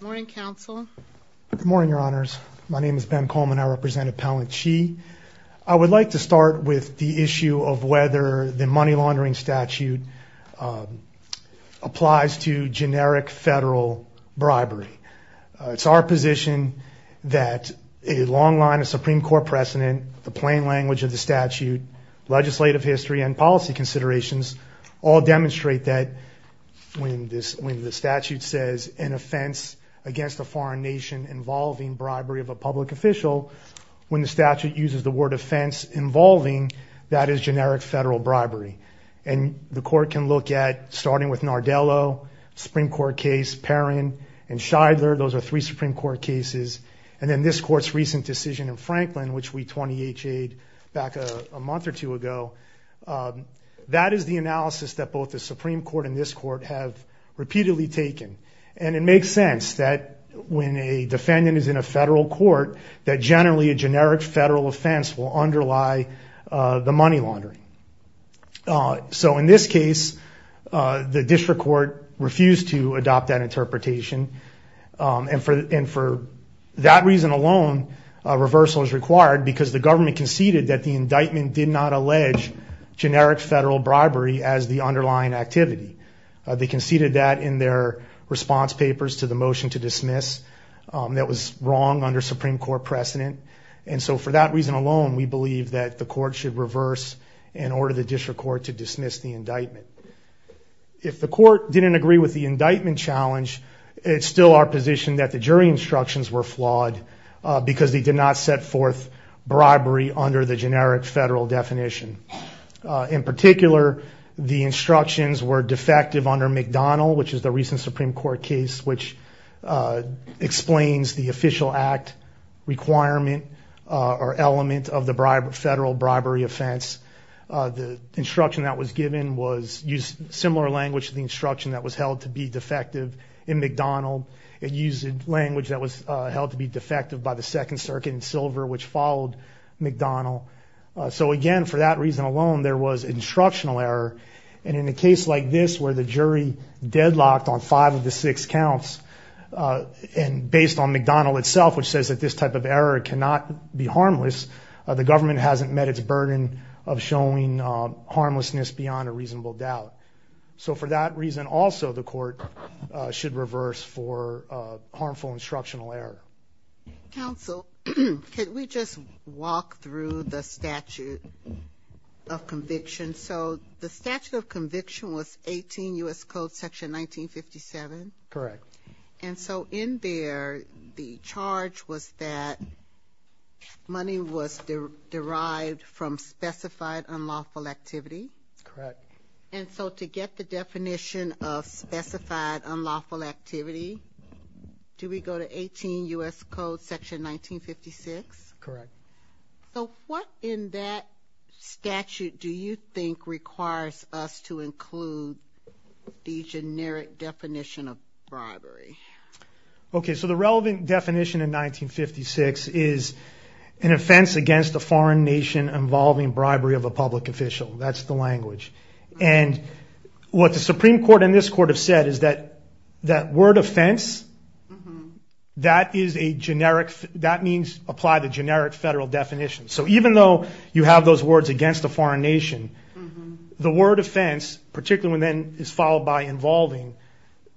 Good morning, Your Honors. My name is Ben Coleman. I represent Appellant Chi. I would like to start with the issue of whether the money laundering statute applies to generic federal bribery. It's our position that a long line of Supreme Court precedent, the plain language of the statute, legislative history, and policy considerations all demonstrate that when the statute says an offense against a foreign nation involving bribery of a public official, when the statute uses the word offense involving, that is generic federal bribery. And the court can look at, starting with Nardello, Supreme Court case, Perrin, and Shidler. Those are three Supreme Court cases. And then this court's recent decision in Franklin, which we 20-H'ed back a month or two ago. That is the analysis that both the Supreme Court and this court have repeatedly taken. And it makes sense that when a defendant is in a federal court, that generally a generic federal offense will underlie the money laundering. So in this case, the district court refused to adopt that interpretation. And for that reason alone, a reversal is required because the government conceded that the indictment did not allege generic federal bribery as the underlying activity. They conceded that in their response papers to the motion to dismiss that was wrong under Supreme Court precedent. And so for that reason alone, we believe that the court should reverse and order the district court to dismiss the indictment. If the court didn't agree with the indictment challenge, it's still our position that the jury instructions were flawed because they did not set forth bribery under the generic federal definition. In particular, the instructions were defective under McDonnell, which is the recent Supreme Court case, which explains the official act requirement or element of the federal bribery offense. The instruction that was given used similar language to the instruction that was held to be defective in McDonnell. It used language that was held to be defective by the Second Circuit in Silver, which followed McDonnell. So again, for that reason alone, there was instructional error. And in a case like this, where the jury deadlocked on five of the six counts, and based on McDonnell itself, which says that this type of error cannot be harmless, the government hasn't met its burden of showing harmlessness beyond a reasonable doubt. So for that reason also, the court should reverse for harmful instructional error. Counsel, could we just walk through the statute of conviction? So the statute of conviction was 18 U.S. Code section 1957. Correct. And so in there, the charge was that money was derived from specified unlawful activity. Correct. And so to get the definition of specified unlawful activity, do we go to 18 U.S. Code section 1956? Correct. So what in that statute do you think requires us to include the generic definition of bribery? Okay, so the relevant definition in 1956 is an offense against a foreign nation involving bribery of a public official. That's the language. And what the Supreme Court and this court have said is that that word offense, that is a generic, that means apply the generic federal definition. So even though you have those words against a foreign nation, the word offense, particularly when then it's followed by involving,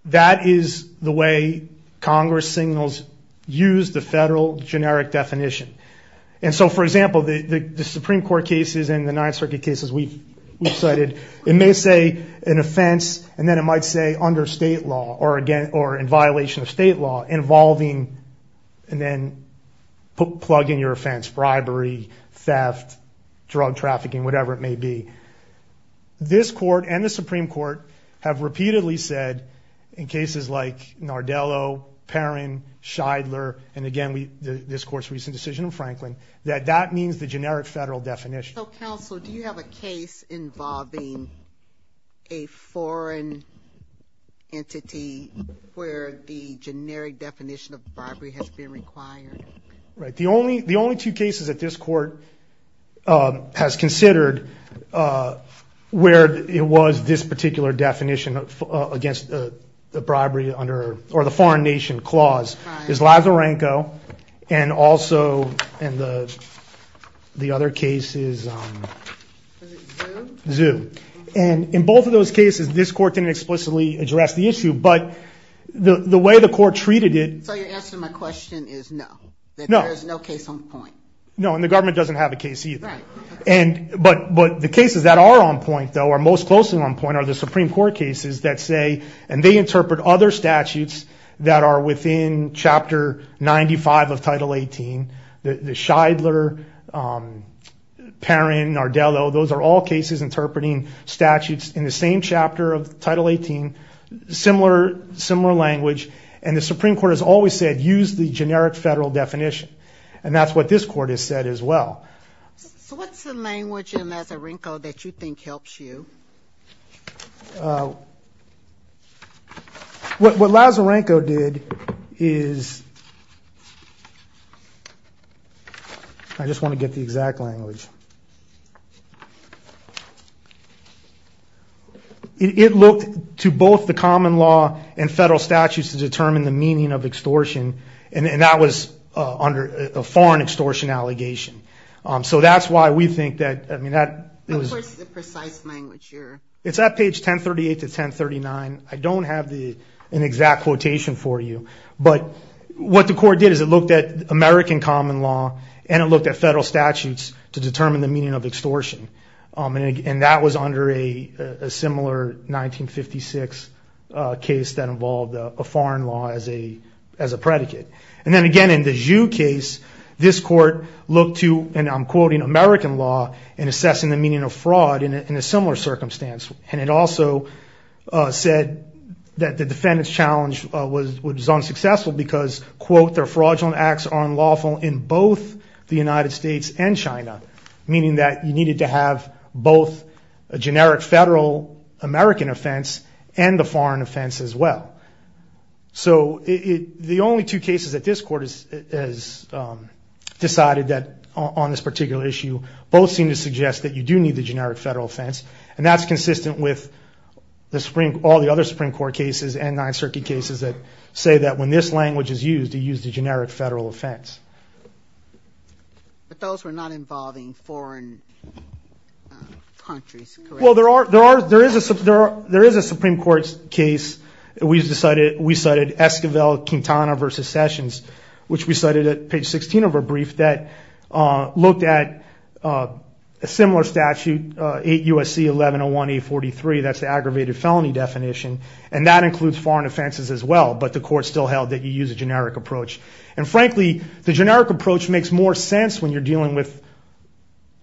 that is the way Congress signals use the federal generic definition. And so for example, the Supreme Court cases and the Ninth Circuit cases we've cited, it may say an offense and then it might say under state law or in violation of state law involving and then plug in your offense, bribery, theft, drug trafficking, whatever it may be. This court and the Supreme Court have repeatedly said in cases like Nardello, Perrin, Shidler, and again, this court's recent decision in Franklin, that that means the generic federal definition. So counsel, do you have a case involving a foreign entity where the generic definition of bribery has been required? Right. The only two cases that this court has considered where it was this particular definition against the bribery under, or the foreign nation clause is Lazarenko and also in the other cases, Zou. And in both of those cases, this court didn't explicitly address the issue, but the way the court treated it. So you're answering my question is no. No. There's no case on point. No, and the government doesn't have a case either. Right. But the cases that are on point though, or most closely on point are the Supreme Court cases that say, and they interpret other statutes that are within Chapter 95 of Title 18. The Shidler, Perrin, Nardello, those are all cases interpreting statutes in the same chapter of Title 18, similar language. And the Supreme Court has always said, use the generic federal definition. And that's what this court has said as well. So what's the language in Lazarenko that you think helps you? What Lazarenko did is, I just want to get the exact language. It looked to both the common law and federal statutes to determine the meaning of extortion. And that was under a foreign extortion allegation. So that's why we think that, I mean, that it's at page 1038 to 1039. I don't have the exact quotation for you, but what the court did is it looked at American common law and it looked at federal statutes to determine the meaning of extortion. And that was under a similar 1956 case that involved a foreign law as a predicate. And then again, in the Zhu case, this court looked to, and I'm quoting, American law in assessing the meaning of fraud in a similar circumstance. And it also said that the defendant's challenge was unsuccessful because, quote, their fraudulent acts are unlawful in both the United States and China, meaning that you needed to have both a generic federal American offense and the foreign offense as well. So the only two cases that this court has decided that, on this particular issue, both seem to suggest that you do need the generic federal offense. And that's consistent with all the other Supreme Court cases and Ninth Circuit cases that say that when this language is used, you use the generic federal offense. But those were not involving foreign countries, correct? Well, there is a Supreme Court case. We cited Esquivel-Quintana v. Sessions, which we cited at page 16 of our brief, that looked at a similar statute, 8 U.S.C. 1101-843. That's the aggravated felony definition. And that includes foreign offenses as well, but the court still held that you use a generic approach. And frankly, the generic approach makes sense when you're dealing with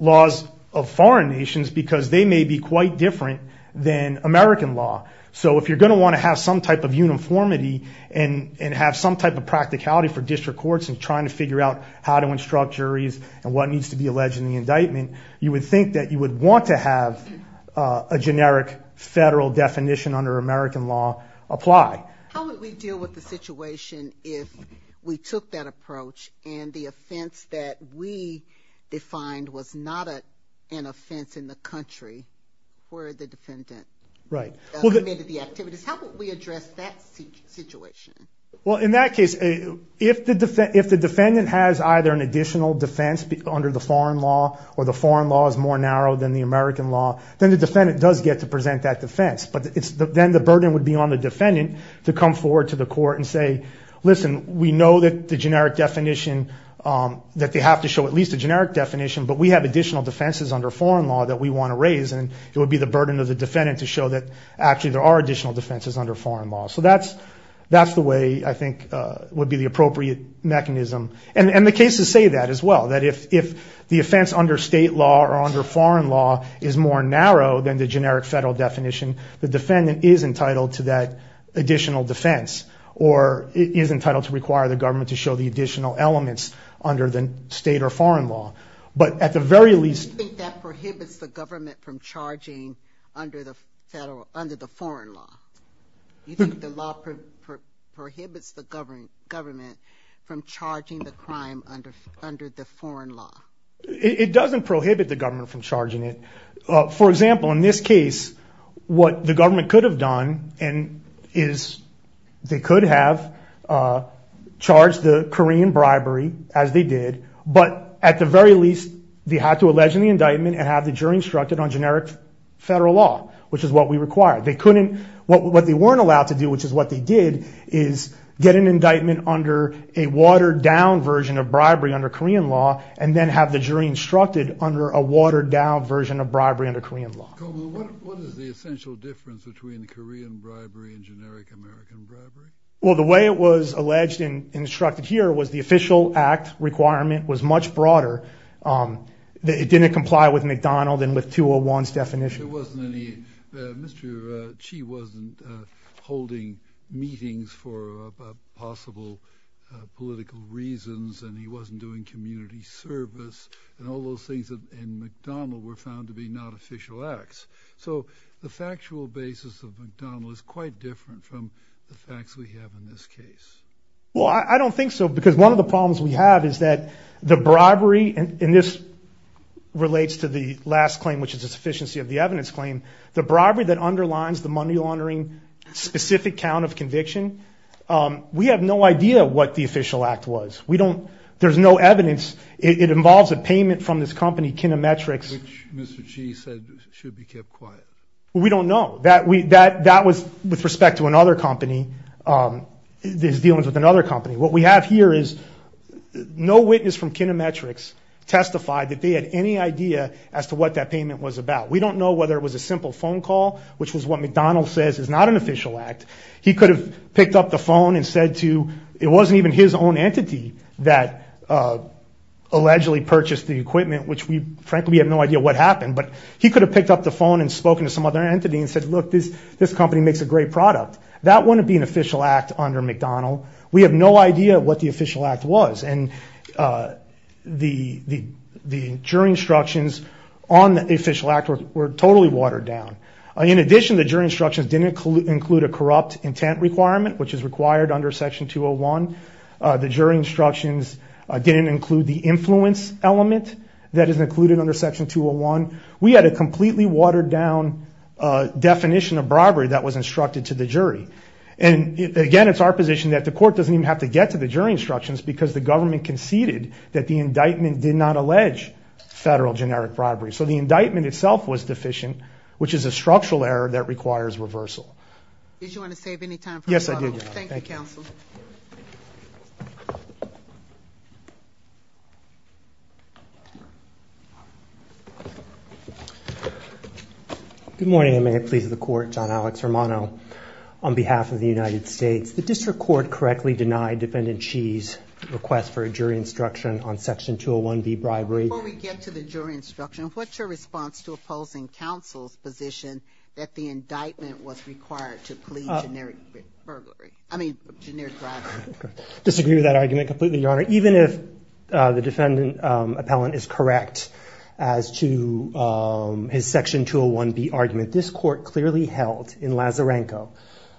laws of foreign nations because they may be quite different than American law. So if you're going to want to have some type of uniformity and have some type of practicality for district courts in trying to figure out how to instruct juries and what needs to be alleged in the indictment, you would think that you would want to have a generic federal definition under American law apply. How would we deal with the situation if we took that approach and the offense that we defined was not an offense in the country where the defendant committed the activities? How would we address that situation? Well, in that case, if the defendant has either an additional defense under the foreign law or the foreign law is more narrow than the American law, then the defendant does get to present that to come forward to the court and say, listen, we know that the generic definition, that they have to show at least a generic definition, but we have additional defenses under foreign law that we want to raise. And it would be the burden of the defendant to show that actually there are additional defenses under foreign law. So that's the way I think would be the appropriate mechanism. And the cases say that as well, that if the offense under state law or under foreign law is more narrow than the generic federal definition, the defendant is entitled to that additional defense or is entitled to require the government to show the additional elements under the state or foreign law. But at the very least... Do you think that prohibits the government from charging under the foreign law? Do you think the law prohibits the government from charging the crime under the foreign law? It doesn't prohibit the government from charging it. For example, in this case, what the government could have done is they could have charged the Korean bribery as they did, but at the very least, they had to allege the indictment and have the jury instructed on generic federal law, which is what we require. What they weren't allowed to do, which is what they did, is get an indictment under a watered down version of bribery under Korean law and then have the jury instructed under a watered down version of bribery under Korean law. What is the essential difference between Korean bribery and generic American bribery? Well, the way it was alleged and instructed here was the official act requirement was much broader. It didn't comply with McDonald and with 201's definition. Mr. Chi wasn't holding meetings for possible political reasons and he wasn't doing community service and all those things in McDonald were found to be not official acts. So the factual basis of McDonald is quite different from the facts we have in this case. Well, I don't think so because one of the problems we have is that the bribery, and this relates to the last claim, which is a sufficiency of the evidence claim, the bribery that underlines the money laundering specific count of conviction, we have no idea what the official act was. There's no evidence. It involves a payment from this company, Kinometrics. Which Mr. Chi said should be kept quiet. We don't know. That was with respect to another company, this dealings with another company. What we have here is no witness from Kinometrics testified that they had any idea as to what that payment was about. We don't know whether it was a simple phone call, which was what McDonald says is not an official act. He could have picked up the phone and said to, it wasn't even his own entity that allegedly purchased the equipment, which we frankly have no idea what happened, but he could have picked up the phone and spoken to some other entity and said, look, this company makes a great product. That wouldn't be an official act under McDonald. We have no idea what the official act was. And the jury instructions on the official act were totally watered down. In addition, the jury instructions didn't include a corrupt intent requirement, which is required under section 201. The jury instructions didn't include the influence element that is included under section 201. We had a completely watered down definition of bribery that was instructed to the jury. And again, it's our position that the court doesn't even have to get to the jury instructions because the government conceded that the indictment did not allege federal generic bribery. So the indictment itself was deficient, which is a structural error that requires reversal. Did you want to save any time? Yes, I did. Thank you, counsel. Good morning. May it please the court. John Alex Romano on behalf of the United States, the district court correctly denied defendant. She's request for a jury instruction on section 201B bribery. Before we get to the jury instruction, what's your response to opposing counsel's position that the indictment was required to plead generic bribery? I mean, generic bribery. Disagree with that argument completely, Your Honor. Even if the defendant appellant is correct as to his section 201B argument, this court clearly held in Lazarenko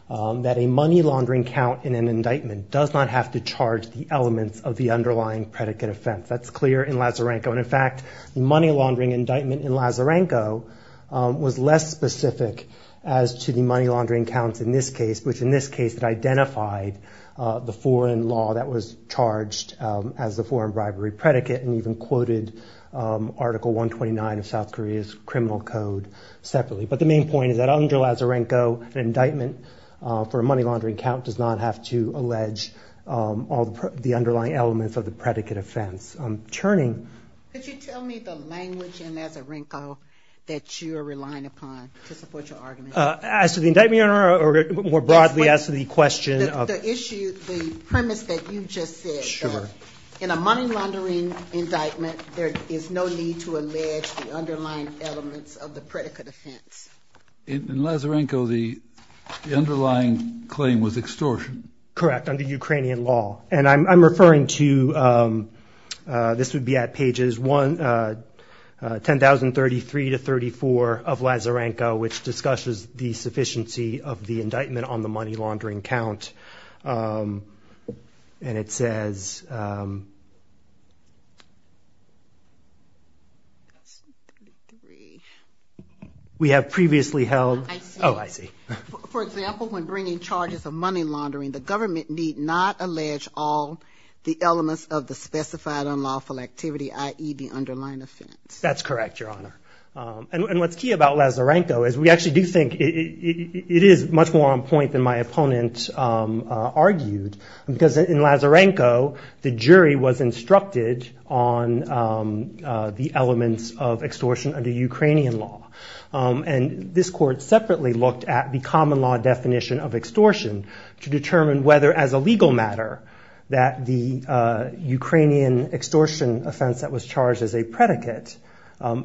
that a money laundering count in an indictment does not have to charge the elements of the underlying predicate offense. That's clear in Lazarenko. In fact, the money laundering indictment in Lazarenko was less specific as to the money laundering counts in this case, which in this case identified the foreign law that was charged as a foreign bribery predicate and even quoted Article 129 of South Korea's criminal code separately. But the main point is that under Lazarenko, an indictment for a money laundering count does not have to charge the underlying elements of the predicate offense. Could you tell me the language in Lazarenko that you're relying upon to support your argument? As to the indictment, Your Honor, or more broadly as to the question? The premise that you just said. In a money laundering indictment, there is no need to allege the underlying elements of the predicate offense. In Lazarenko, the underlying claim was extortion. Correct, under Ukrainian law. And I'm referring to, this would be at pages 10,033 to 10,034 of Lazarenko, which discusses the sufficiency of the indictment on the money laundering count. And it says, we have previously held. Oh, I see. For example, when bringing charges of money laundering, the government need not allege all the elements of the specified unlawful activity, i.e. the underlying offense. That's correct, Your Honor. And what's key about Lazarenko is we actually do think it is much more on point than my opponent argued. Because in Lazarenko, the jury was instructed on the elements of extortion under Ukrainian law. And this court separately looked at the common law definition of extortion to determine whether, as a legal matter, that the Ukrainian extortion offense that was charged as a predicate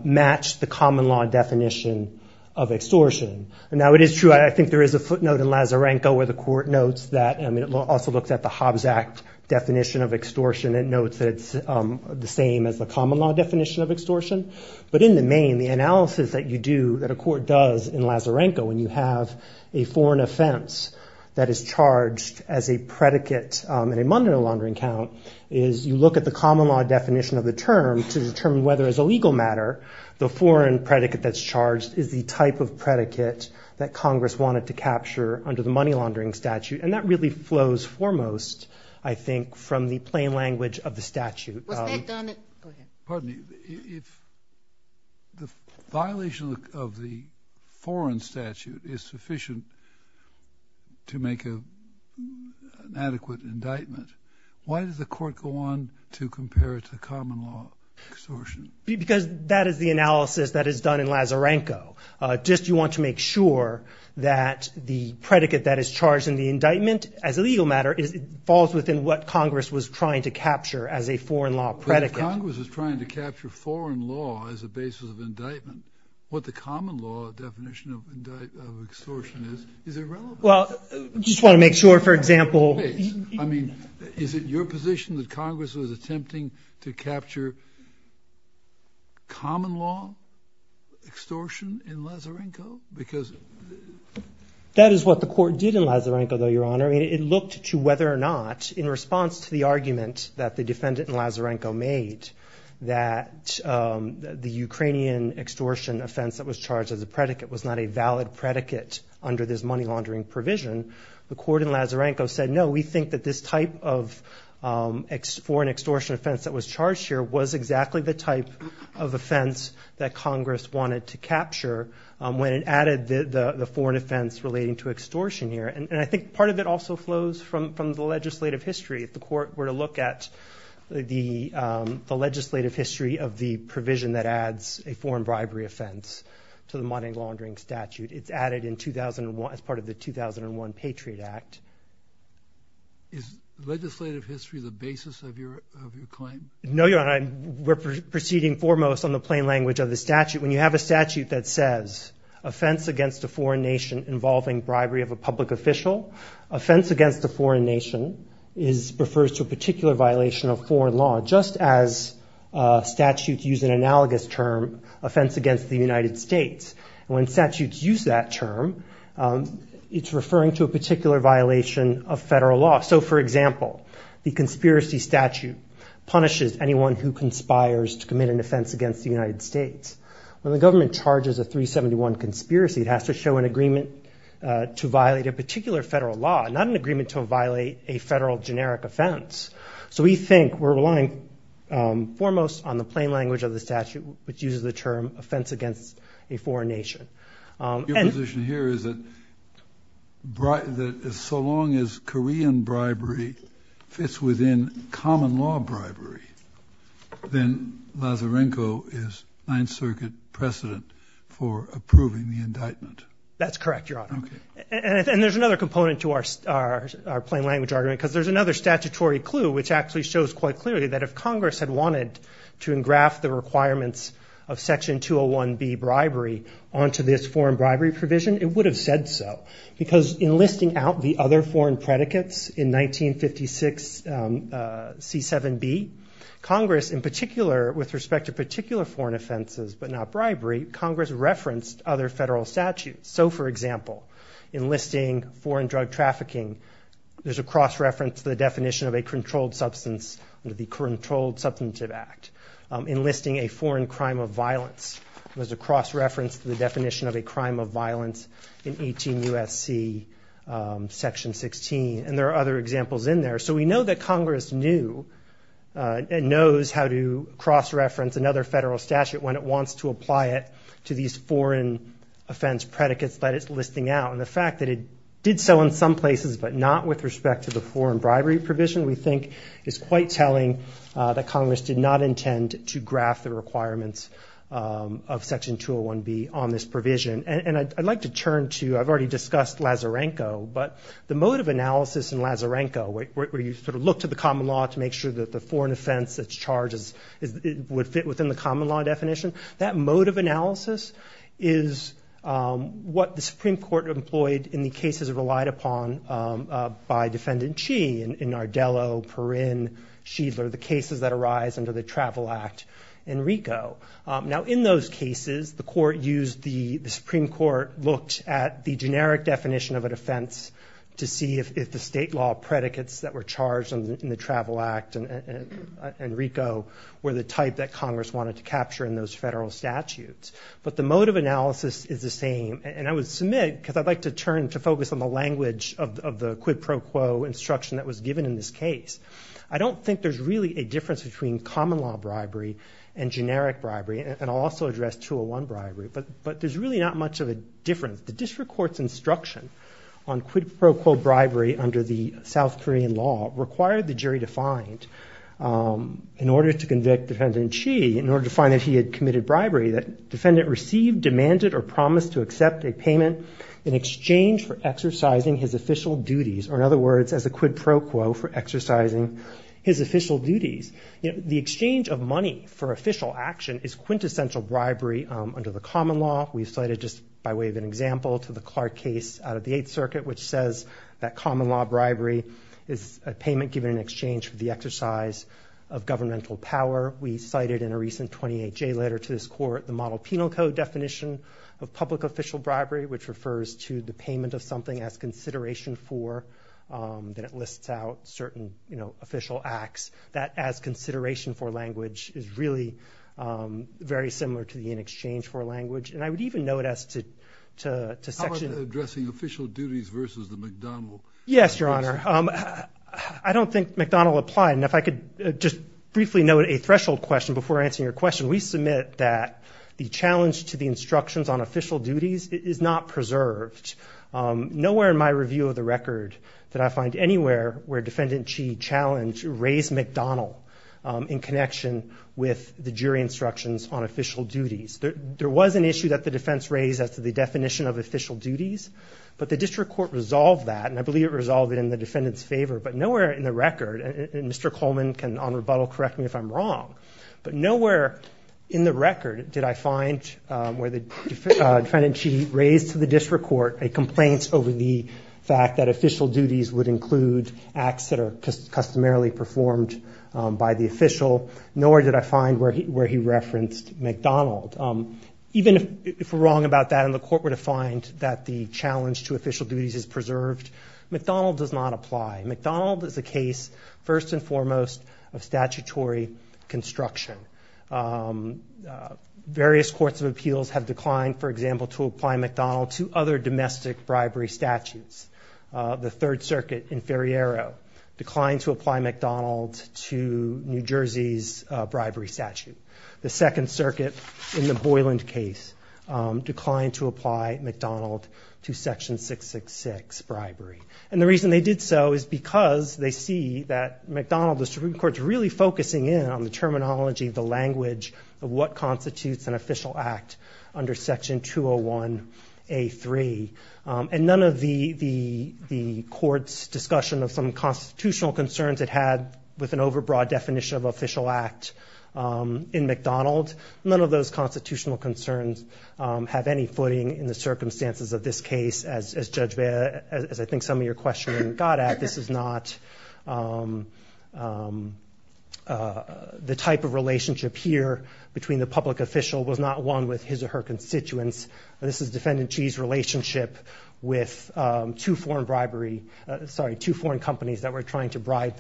matched the common law definition of extortion. And now it is true. I think there is a footnote in Lazarenko where the court notes that. I mean, it also looks at the Hobbs Act definition of extortion and notes that it's the same as the common law definition of extortion. But in the main, the analysis that you do, that a court does in Lazarenko when you have a foreign offense that is charged as a predicate in a money laundering count, is you look at the common law definition of the term to determine whether, as a legal matter, the foreign predicate that's charged is the type of predicate that Congress wanted to capture under the money laundering statute. And that really flows foremost, I think, from the plain language of the statute. Pardon me. If the violation of the foreign statute is sufficient to make an adequate indictment, why does the court go on to compare it to common law extortion? Because that is the analysis that is done in Lazarenko. Just you want to make sure that the within what Congress was trying to capture as a foreign law predicate. Because if Congress is trying to capture foreign law as a basis of indictment, what the common law definition of extortion is, is irrelevant. Well, you just want to make sure, for example... I mean, is it your position that Congress was attempting to capture common law extortion in Lazarenko? Because... That is what the court did in Lazarenko, though, Your Honor. It looked to whether or not, in response to the argument that the defendant in Lazarenko made, that the Ukrainian extortion offense that was charged as a predicate was not a valid predicate under this money laundering provision. The court in Lazarenko said, no, we think that this type of foreign extortion offense that was charged here was exactly the type of offense that Congress wanted to capture when it added the foreign offense relating to extortion here. And I think part of it also flows from the legislative history. If the court were to look at the legislative history of the provision that adds a foreign bribery offense to the money laundering statute, it's added as part of the 2001 Patriot Act. Is legislative history the basis of your claim? No, Your Honor. We're proceeding foremost on the plain language of the statute. When you have a offense against a foreign nation, it refers to a particular violation of foreign law, just as statutes use an analogous term, offense against the United States. When statutes use that term, it's referring to a particular violation of federal law. So, for example, the conspiracy statute punishes anyone who conspires to commit an offense against the United States. When the government charges a 371 conspiracy, it has to show an agreement to violate a particular federal law, not an agreement to violate a federal generic offense. So we think we're relying foremost on the plain language of the statute, which uses the term offense against a foreign nation. Your position here is that so long as Korean bribery fits within common law bribery, then Lazarenko is Ninth Circuit precedent for approving the indictment. That's correct, Your Honor. And there's another component to our plain language argument, because there's another statutory clue, which actually shows quite clearly that if Congress had wanted to engraft the requirements of Section 201B bribery onto this foreign bribery provision, it would have said so. Because in listing out the other foreign predicates in 1956 C7B, Congress in particular, with respect to particular foreign offenses, but not bribery, Congress referenced other federal statutes. So for example, enlisting foreign drug trafficking, there's a cross-reference to the definition of a controlled substance under the Controlled Substantive Act. Enlisting a foreign crime of violence, there's a cross-reference to the definition of a crime of violence in 18 U.S.C. Section 16. And there are other examples in there. So we know that Congress knew and knows how to cross-reference another federal statute when it wants to apply it to these foreign offense predicates that it's listing out. And the fact that it did so in some places, but not with respect to the foreign bribery provision, we think is quite telling that Congress did not intend to graft the requirements of Section 201B on this provision. And I'd like to turn to, I've already discussed Lazarenko, but the mode of analysis in Lazarenko, where you sort of look to the common law to make sure that the foreign offense that's That mode of analysis is what the Supreme Court employed in the cases relied upon by Defendant Chee, Nardello, Perrin, Shiedler, the cases that arise under the Travel Act and RICO. Now in those cases, the Supreme Court looked at the generic definition of an offense to see if the state law predicates that were charged in the Travel Act and RICO were the type that Congress wanted to capture in those federal statutes. But the mode of analysis is the same, and I would submit, because I'd like to turn to focus on the language of the quid pro quo instruction that was given in this case, I don't think there's really a difference between common law bribery and generic bribery, and I'll also address 201 bribery, but there's really not much of a difference. The district court's instruction on quid pro quo bribery under the South Korean law required the jury to in order to convict Defendant Chee, in order to find that he had committed bribery, that defendant received, demanded, or promised to accept a payment in exchange for exercising his official duties, or in other words, as a quid pro quo for exercising his official duties. The exchange of money for official action is quintessential bribery under the common law. We've cited just by way of an example to the Clark case out of the Eighth Circuit, which says that common law bribery is a payment given in of governmental power. We cited in a recent 28-J letter to this court the model penal code definition of public official bribery, which refers to the payment of something as consideration for, that it lists out certain, you know, official acts, that as consideration for language is really very similar to the in exchange for language, and I would even note as to How about addressing official duties versus the McDonnell? Yes, Your Honor. I don't think McDonnell applied, and if I could just briefly note a threshold question before answering your question. We submit that the challenge to the instructions on official duties is not preserved. Nowhere in my review of the record that I find anywhere where Defendant Chee challenged or raised McDonnell in connection with the jury instructions on official duties. There was an issue that the defense raised as to the definition of official resolved in the defendant's favor, but nowhere in the record, and Mr. Coleman can on rebuttal correct me if I'm wrong, but nowhere in the record did I find where the defendant raised to the district court a complaint over the fact that official duties would include acts that are customarily performed by the official, nor did I find where he referenced McDonnell. Even if we're wrong about that and the court were to find that the challenge to official duties is McDonnell does not apply. McDonnell is a case, first and foremost, of statutory construction. Various courts of appeals have declined, for example, to apply McDonnell to other domestic bribery statutes. The Third Circuit in Ferriero declined to apply McDonnell to New Jersey's bribery statute. The Second Circuit in the Boyland case declined to apply McDonnell to and the reason they did so is because they see that McDonnell, the Supreme Court, is really focusing in on the terminology, the language of what constitutes an official act under Section 201 A3, and none of the court's discussion of some constitutional concerns it had with an overbroad definition of official act in McDonnell, none of those constitutional concerns have any footing in the circumstances of this case. As Judge Bea, as I think some of your questioning got at, this is not the type of relationship here between the public official was not one with his or her constituents. This is Defendant Chee's relationship with two foreign bribery, sorry, two foreign companies that were trying to bribe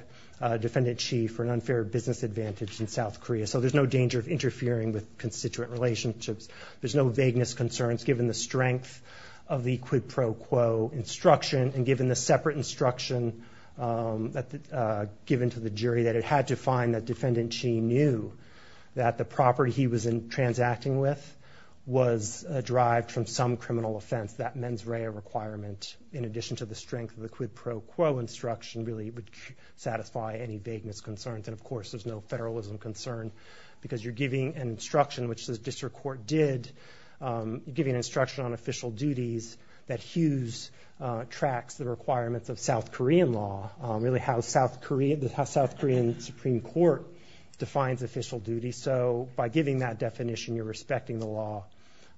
Defendant Chee for an unfair business advantage in South Korea. So there's no danger of interfering with constituent relationships. There's no vagueness concerns given the strength of the quid pro quo instruction and given the separate instruction given to the jury that it had to find that Defendant Chee knew that the property he was in transacting with was derived from some criminal offense. That mens rea requirement in addition to the strength of the quid pro quo instruction really would satisfy any vagueness concerns and of course there's no federalism concern because you're giving an instruction which the district court did, giving instruction on official duties that Hughes tracks the requirements of South Korean law, really how South Korea, the South Korean Supreme Court defines official duty. So by giving that definition you're respecting the law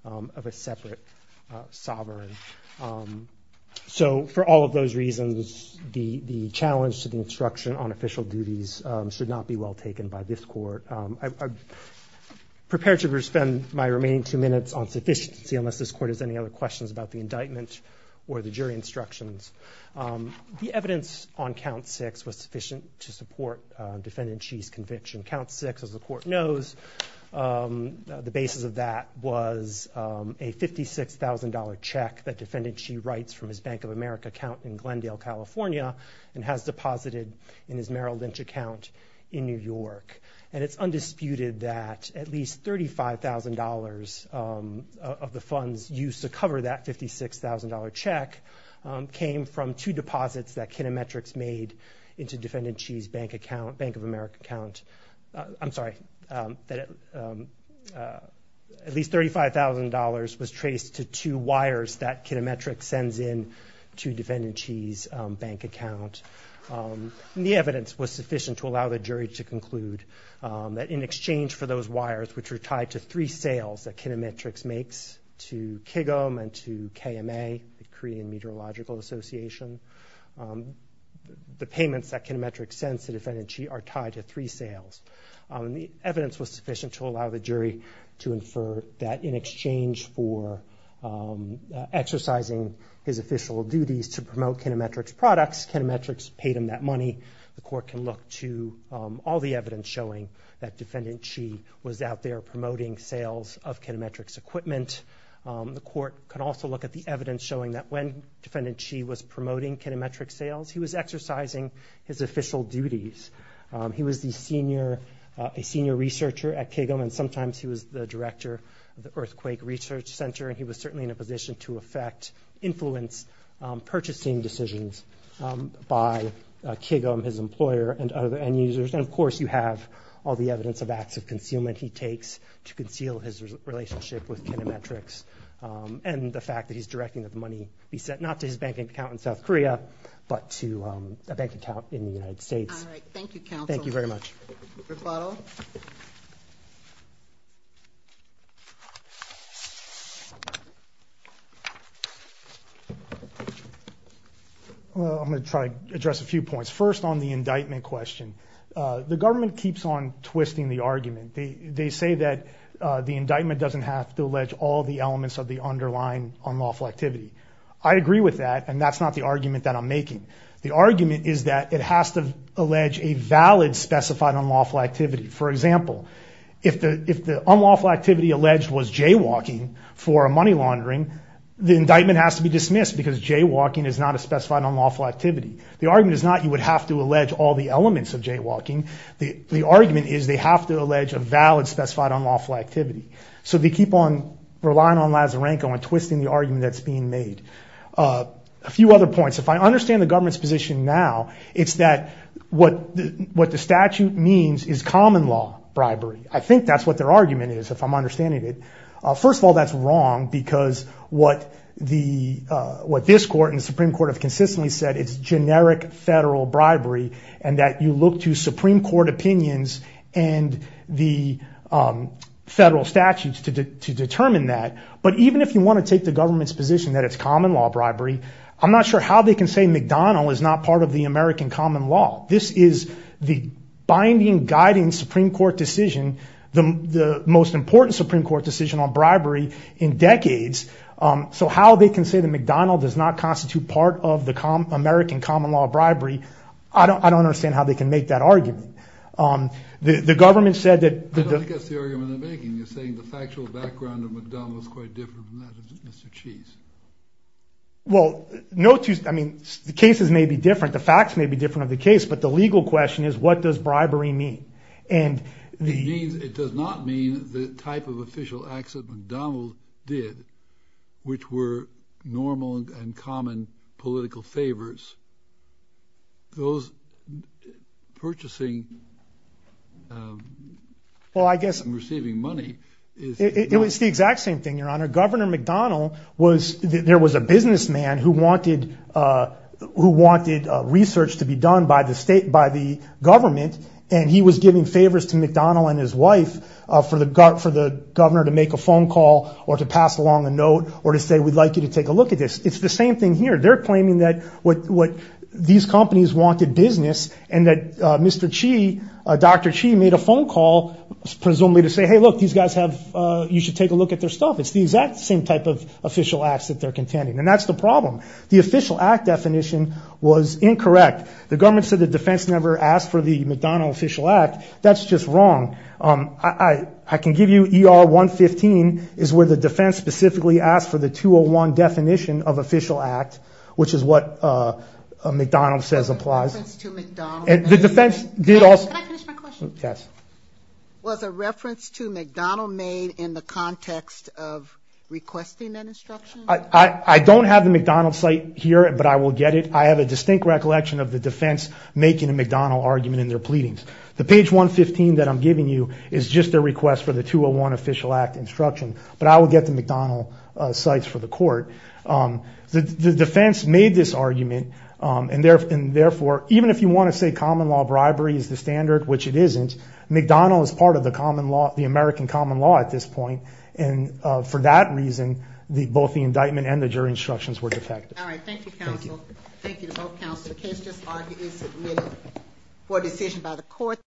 of a separate sovereign. So for all of those reasons the challenge to the instruction on prepared to spend my remaining two minutes on sufficiency unless this court has any other questions about the indictment or the jury instructions. The evidence on count six was sufficient to support Defendant Chee's conviction. Count six, as the court knows, the basis of that was a $56,000 check that Defendant Chee writes from his Bank of America account in Glendale, California and has deposited in his Merrill Lynch account in New York. And it's undisputed that at least $35,000 of the funds used to cover that $56,000 check came from two deposits that Kinemetrix made into Defendant Chee's Bank of America account. I'm sorry, that at least $35,000 was traced to two wires that Kinemetrix sends in to Defendant Chee's bank account. The evidence was sufficient to allow the jury to conclude that in exchange for those wires, which are tied to three sales that Kinemetrix makes to KGM and to KMA, the Korean Meteorological Association, the payments that Kinemetrix sends to Defendant Chee are tied to three sales. The evidence was sufficient to allow the jury to infer that in exchange for exercising his official duties to promote Kinemetrix products, Kinemetrix paid him that money. The court can look to all the evidence showing that Defendant Chee was out there promoting sales of Kinemetrix equipment. The court could also look at the evidence showing that when Defendant Chee was a senior researcher at KGM, and sometimes he was the director of the Earthquake Research Center, and he was certainly in a position to influence purchasing decisions by KGM, his employer, and other end users. Of course, you have all the evidence of acts of concealment he takes to conceal his relationship with Kinemetrix, and the fact that he's directing that money be sent not to his bank account in South Korea, but to a bank account in the United States. All right. Thank you, counsel. I'm going to try to address a few points. First, on the indictment question, the government keeps on twisting the argument. They say that the indictment doesn't have to allege all the elements of the underlying unlawful activity. I agree with that, and that's not the argument that I'm making. The argument is that it has to allege a valid specified unlawful activity. For example, if the unlawful activity alleged was jaywalking for a money laundering, the indictment has to be dismissed because jaywalking is not a specified unlawful activity. The argument is not you would have to allege all the elements of jaywalking. The argument is they have to allege a valid specified unlawful activity. They keep on Lazzarenco and twisting the argument that's being made. A few other points. If I understand the government's position now, it's that what the statute means is common law bribery. I think that's what their argument is, if I'm understanding it. First of all, that's wrong because what this court and the Supreme Court have consistently said, it's generic federal bribery, and that you even if you want to take the government's position that it's common law bribery, I'm not sure how they can say McDonald's is not part of the American common law. This is the binding, guiding Supreme Court decision, the most important Supreme Court decision on bribery in decades. So how they can say that McDonald's does not constitute part of the American common law bribery, I don't understand how they can make that argument. The government said that... Mr. Chief. Well, no two, I mean, the cases may be different. The facts may be different of the case. But the legal question is, what does bribery mean? And it means it does not mean the type of official accident McDonald did, which were normal and common political favors. Those purchasing and receiving money. Well, I guess it was the exact same thing, Your Honor. Governor McDonald was, there was a businessman who wanted research to be done by the state, by the government. And he was giving favors to McDonald and his wife for the governor to make a phone call or to pass along a note or to say, we'd like you to take a look at this. It's the same thing here. They're claiming what these companies wanted business and that Mr. Chi, Dr. Chi made a phone call, presumably to say, hey, look, these guys have, you should take a look at their stuff. It's the exact same type of official acts that they're contending. And that's the problem. The official act definition was incorrect. The government said the defense never asked for the McDonald official act. That's just wrong. I can give you ER 115 is where the defense specifically asked for the 201 definition of official act, which is what a McDonald says applies. And the defense did also, can I finish my question? Yes. Was a reference to McDonald made in the context of requesting that instruction? I don't have the McDonald site here, but I will get it. I have a distinct recollection of the defense making a McDonald argument in their pleadings. The page 115 that I'm giving you is just a request for the 201 official act instruction, but I will get the court. The defense made this argument. And therefore, even if you want to say common law bribery is the standard, which it isn't McDonald as part of the common law, the American common law at this point. And for that reason, the, both the indictment and the jury instructions were defective. All right. Thank you counsel. Thank you to both counsel. The case just argued is for decision by the court.